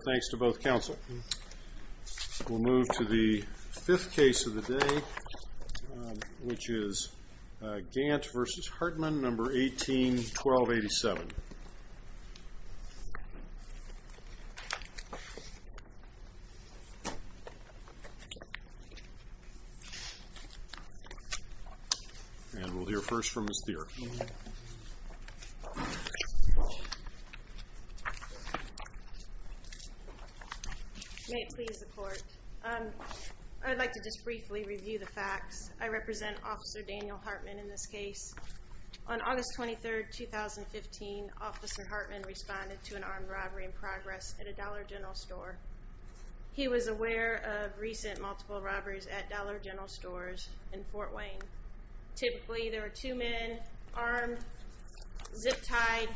Thanks to both counsel. We'll move to the fifth case of the day, which is Gant v. Hartman, number 18-1287. And we'll hear first from Ms. Thier. May it please the court. I'd like to just briefly review the facts. I represent Officer Daniel Hartman in this case. On August 23, 2015, Officer Hartman responded to an armed robbery in progress at a Dollar General store. He was aware of recent multiple robberies at Dollar General stores in Fort Wayne. Typically, there were two men, armed, zip-tied,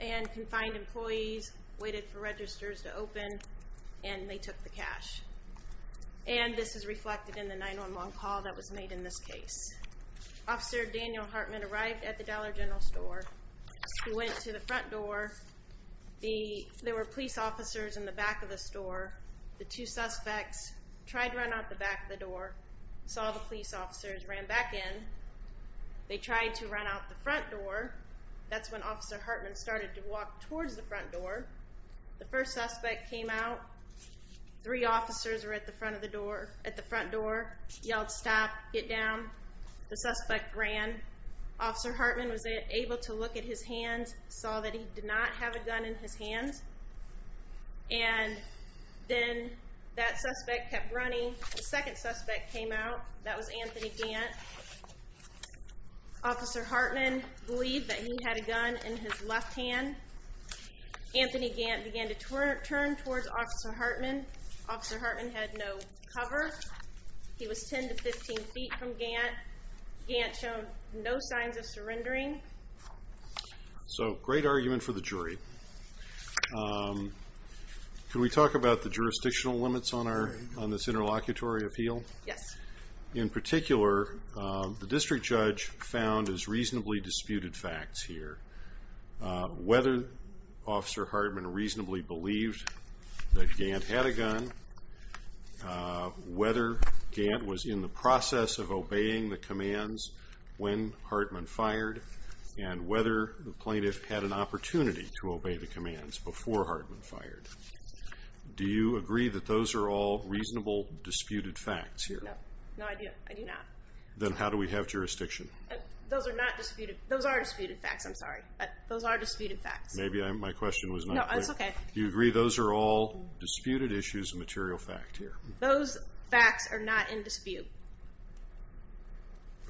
and confined employees, waited for registers to open, and they took the cash. And this is reflected in the 911 call that was made in this case. Officer Daniel Hartman arrived at the Dollar General store. He went to the front door. There were police officers in the back of the store. The two suspects tried to run out the back of the door, saw the police officers, ran back in. They tried to run out the front door. That's when Officer Hartman started to walk towards the front door. The first suspect came out. Three officers were at the front door, yelled, stop, get down. The suspect ran. Officer Hartman was able to look at his hands, saw that he did not have a gun in his hands. And then that suspect kept running. The second suspect came out. That was Anthony Gant. Officer Hartman believed that he had a gun in his left hand. Anthony Gant began to turn towards Officer Hartman. Officer Hartman had no cover. He was 10 to 15 feet from Gant. Gant showed no signs of surrendering. So, great argument for the jury. Can we talk about the jurisdictional limits on this interlocutory appeal? Yes. In particular, the district judge found as reasonably disputed facts here, whether Officer Hartman reasonably believed that Gant had a gun, whether Gant was in the process of obeying the commands when Hartman fired, and whether the plaintiff had an opportunity to obey the commands before Hartman fired. Do you agree that those are all reasonable disputed facts here? No, I do not. Then how do we have jurisdiction? Those are disputed facts, I'm sorry. Those are disputed facts. Maybe my question was not clear. No, that's okay. Do you agree those are all disputed issues of material fact here? Those facts are not in dispute.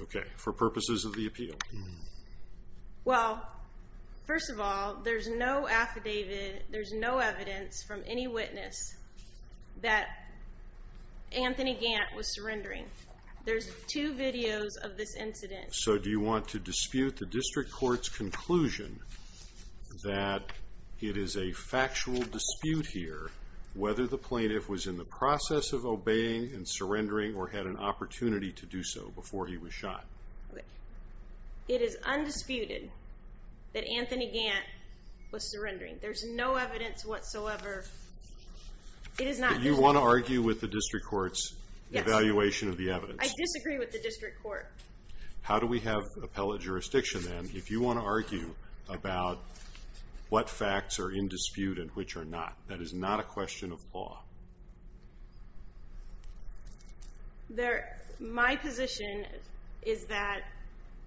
Okay. For purposes of the appeal? Well, first of all, there's no evidence from any witness that Anthony Gant was surrendering. There's two videos of this incident. So, do you want to dispute the district court's conclusion that it is a factual dispute here whether the plaintiff was in the process of obeying and surrendering or had an opportunity to do so before he was shot? It is undisputed that Anthony Gant was surrendering. There's no evidence whatsoever. Do you want to argue with the district court's evaluation of the evidence? I disagree with the district court. How do we have appellate jurisdiction then? If you want to argue about what facts are in dispute and which are not, that is not a question of law. My position is that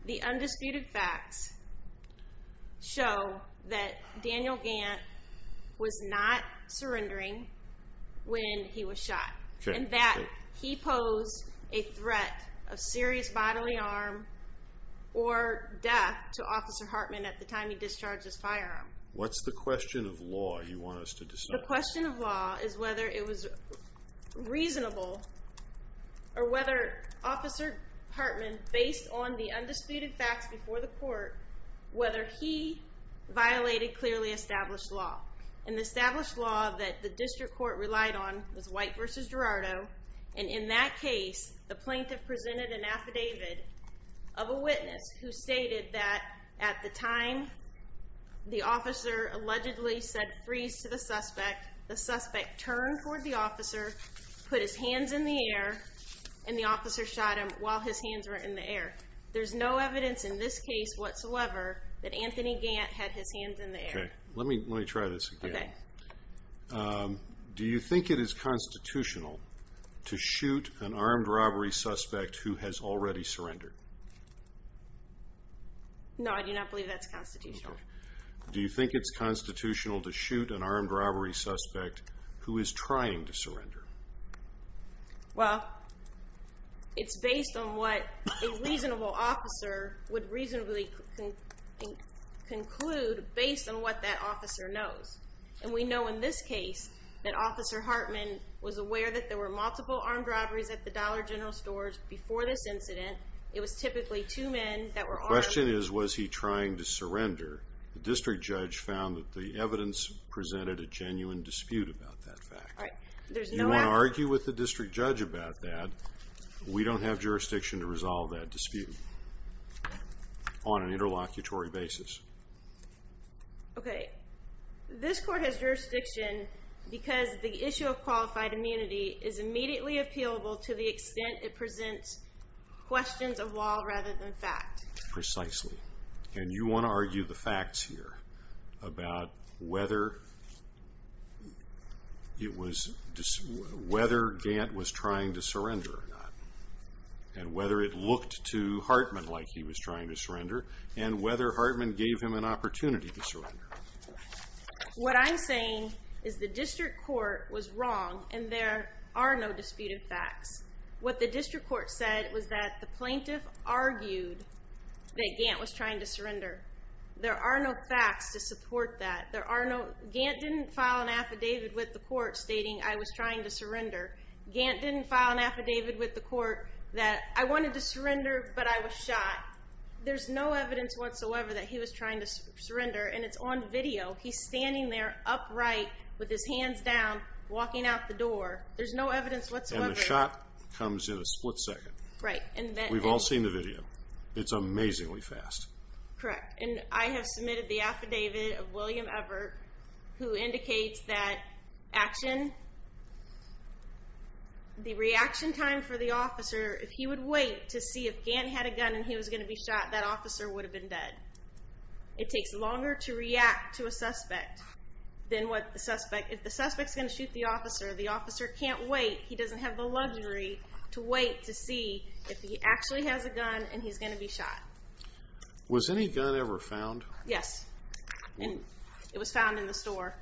the undisputed facts show that Daniel Gant was not surrendering when he was shot. And that he posed a threat of serious bodily harm or death to Officer Hartman at the time he discharged his firearm. What's the question of law you want us to discuss? The question of law is whether it was reasonable or whether Officer Hartman, based on the undisputed facts before the court, whether he violated clearly established law. And the established law that the district court relied on was White v. Gerardo. And in that case, the plaintiff presented an affidavit of a witness who stated that at the time the officer allegedly said freeze to the suspect, the suspect turned toward the officer, put his hands in the air, and the officer shot him while his hands were in the air. There's no evidence in this case whatsoever that Anthony Gant had his hands in the air. Okay, let me try this again. Do you think it is constitutional to shoot an armed robbery suspect who has already surrendered? No, I do not believe that's constitutional. Do you think it's constitutional to shoot an armed robbery suspect who is trying to surrender? Well, it's based on what a reasonable officer would reasonably conclude based on what that officer knows. And we know in this case that Officer Hartman was aware that there were multiple armed robberies at the Dollar General stores before this incident. It was typically two men that were armed. The question is, was he trying to surrender? The district judge found that the evidence presented a genuine dispute about that fact. You want to argue with the district judge about that, we don't have jurisdiction to resolve that dispute on an interlocutory basis. Okay, this court has jurisdiction because the issue of qualified immunity is immediately appealable to the extent it presents questions of law rather than fact. Precisely. And you want to argue the facts here about whether Gant was trying to surrender or not. And whether it looked to Hartman like he was trying to surrender and whether Hartman gave him an opportunity to surrender. What I'm saying is the district court was wrong and there are no disputed facts. What the district court said was that the plaintiff argued that Gant was trying to surrender. There are no facts to support that. Gant didn't file an affidavit with the court stating I was trying to surrender. Gant didn't file an affidavit with the court that I wanted to surrender but I was shot. There's no evidence whatsoever that he was trying to surrender and it's on video. He's standing there upright with his hands down walking out the door. There's no evidence whatsoever. And the shot comes in a split second. Right. We've all seen the video. It's amazingly fast. Correct. And I have submitted the affidavit of William Evert who indicates that the reaction time for the officer, if he would wait to see if Gant had a gun and he was going to be shot, that officer would have been dead. It takes longer to react to a suspect than what the suspect. If the suspect is going to shoot the officer, the officer can't wait. He doesn't have the luxury to wait to see if he actually has a gun and he's going to be shot. Was any gun ever found? Yes. It was found in the store.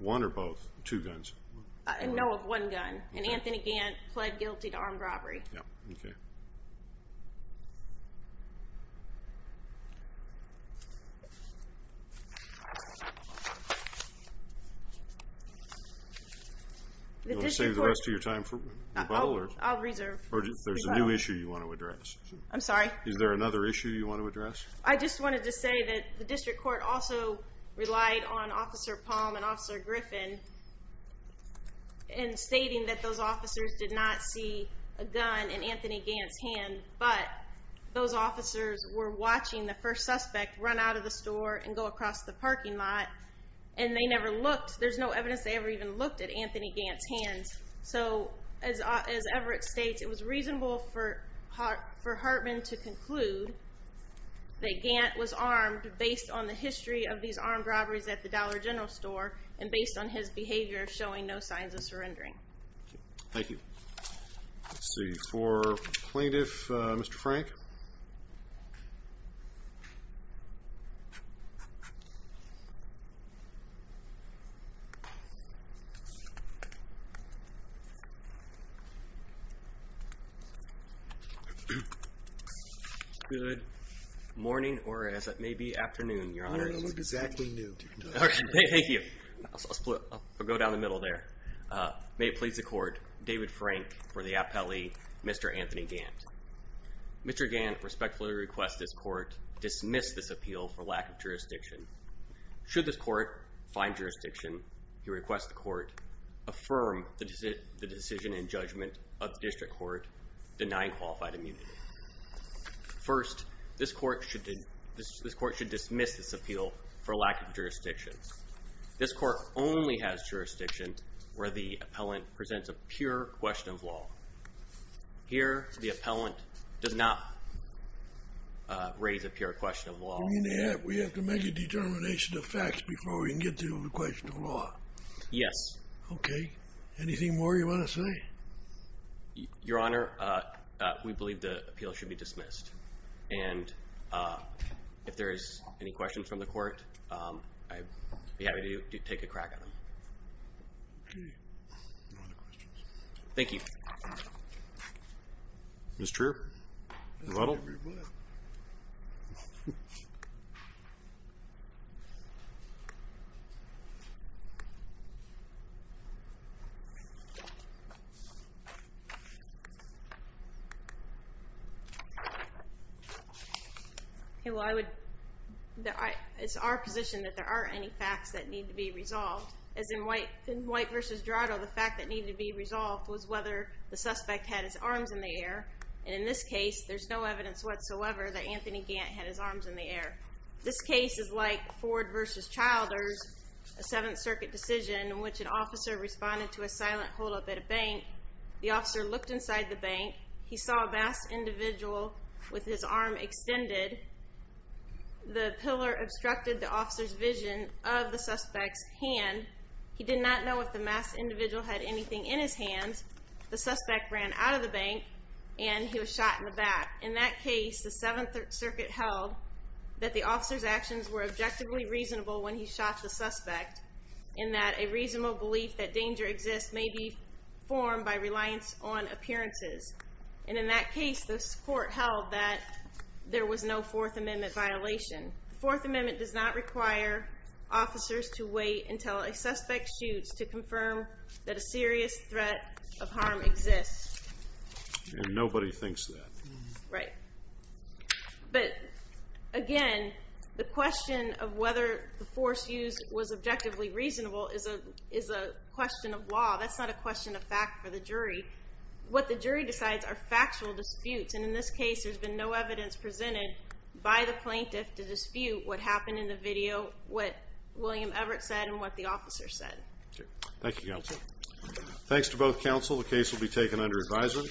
One or both? Two guns? No, one gun. And Anthony Gant pled guilty to armed robbery. Okay. Do you want to save the rest of your time for rebuttal? I'll reserve. There's a new issue you want to address. I'm sorry? Is there another issue you want to address? I just wanted to say that the district court also relied on Officer Palm and Officer Griffin in stating that those officers did not see a gun in Anthony Gant's hand, but those officers were watching the first suspect run out of the store and go across the parking lot and they never looked. There's no evidence they ever even looked at Anthony Gant's hands. So as Everett states, it was reasonable for Hartman to conclude that Gant was armed based on the history of these armed robberies at the Dollar General store and based on his behavior showing no signs of surrendering. Thank you. Let's see. For Plaintiff Mr. Frank? Good morning, or as it may be, afternoon, Your Honor. I don't know if it's exactly noon. Thank you. I'll go down the middle there. May it please the court, David Frank for the appellee, Mr. Anthony Gant. Mr. Gant respectfully requests this court dismiss this appeal for lack of jurisdiction. Should this court find jurisdiction, he requests the court affirm the decision and judgment of the district court denying qualified immunity. First, this court should dismiss this appeal for lack of jurisdiction. This court only has jurisdiction where the appellant presents a pure question of law. Here, the appellant does not raise a pure question of law. You mean to add we have to make a determination of facts before we can get to the question of law? Yes. Okay. Anything more you want to say? Your Honor, we believe the appeal should be dismissed. And if there is any questions from the court, I'd be happy to take a crack at them. Okay. No other questions. Thank you. Ms. Trier? Little? It's our position that there aren't any facts that need to be resolved. As in White v. Dorado, the fact that needed to be resolved was whether the suspect had his arms in the air. And in this case, there's no evidence whatsoever that Anthony Gant had his arms in the air. This case is like Ford v. Childers, a Seventh Circuit decision in which an officer responded to a silent holdup at a bank. The officer looked inside the bank. He saw a masked individual with his arm extended. The pillar obstructed the officer's vision of the suspect's hand. He did not know if the masked individual had anything in his hands. The suspect ran out of the bank, and he was shot in the back. In that case, the Seventh Circuit held that the officer's actions were objectively reasonable when he shot the suspect in that a reasonable belief that danger exists may be formed by reliance on appearances. And in that case, this court held that there was no Fourth Amendment violation. The Fourth Amendment does not require officers to wait until a suspect shoots to confirm that a serious threat of harm exists. And nobody thinks that. Right. But again, the question of whether the force used was objectively reasonable is a question of law. That's not a question of fact for the jury. What the jury decides are factual disputes, and in this case there's been no evidence presented by the plaintiff to dispute what happened in the video, what William Everett said and what the officer said. Thank you, counsel. Thanks to both counsel. The case will be taken under advisement.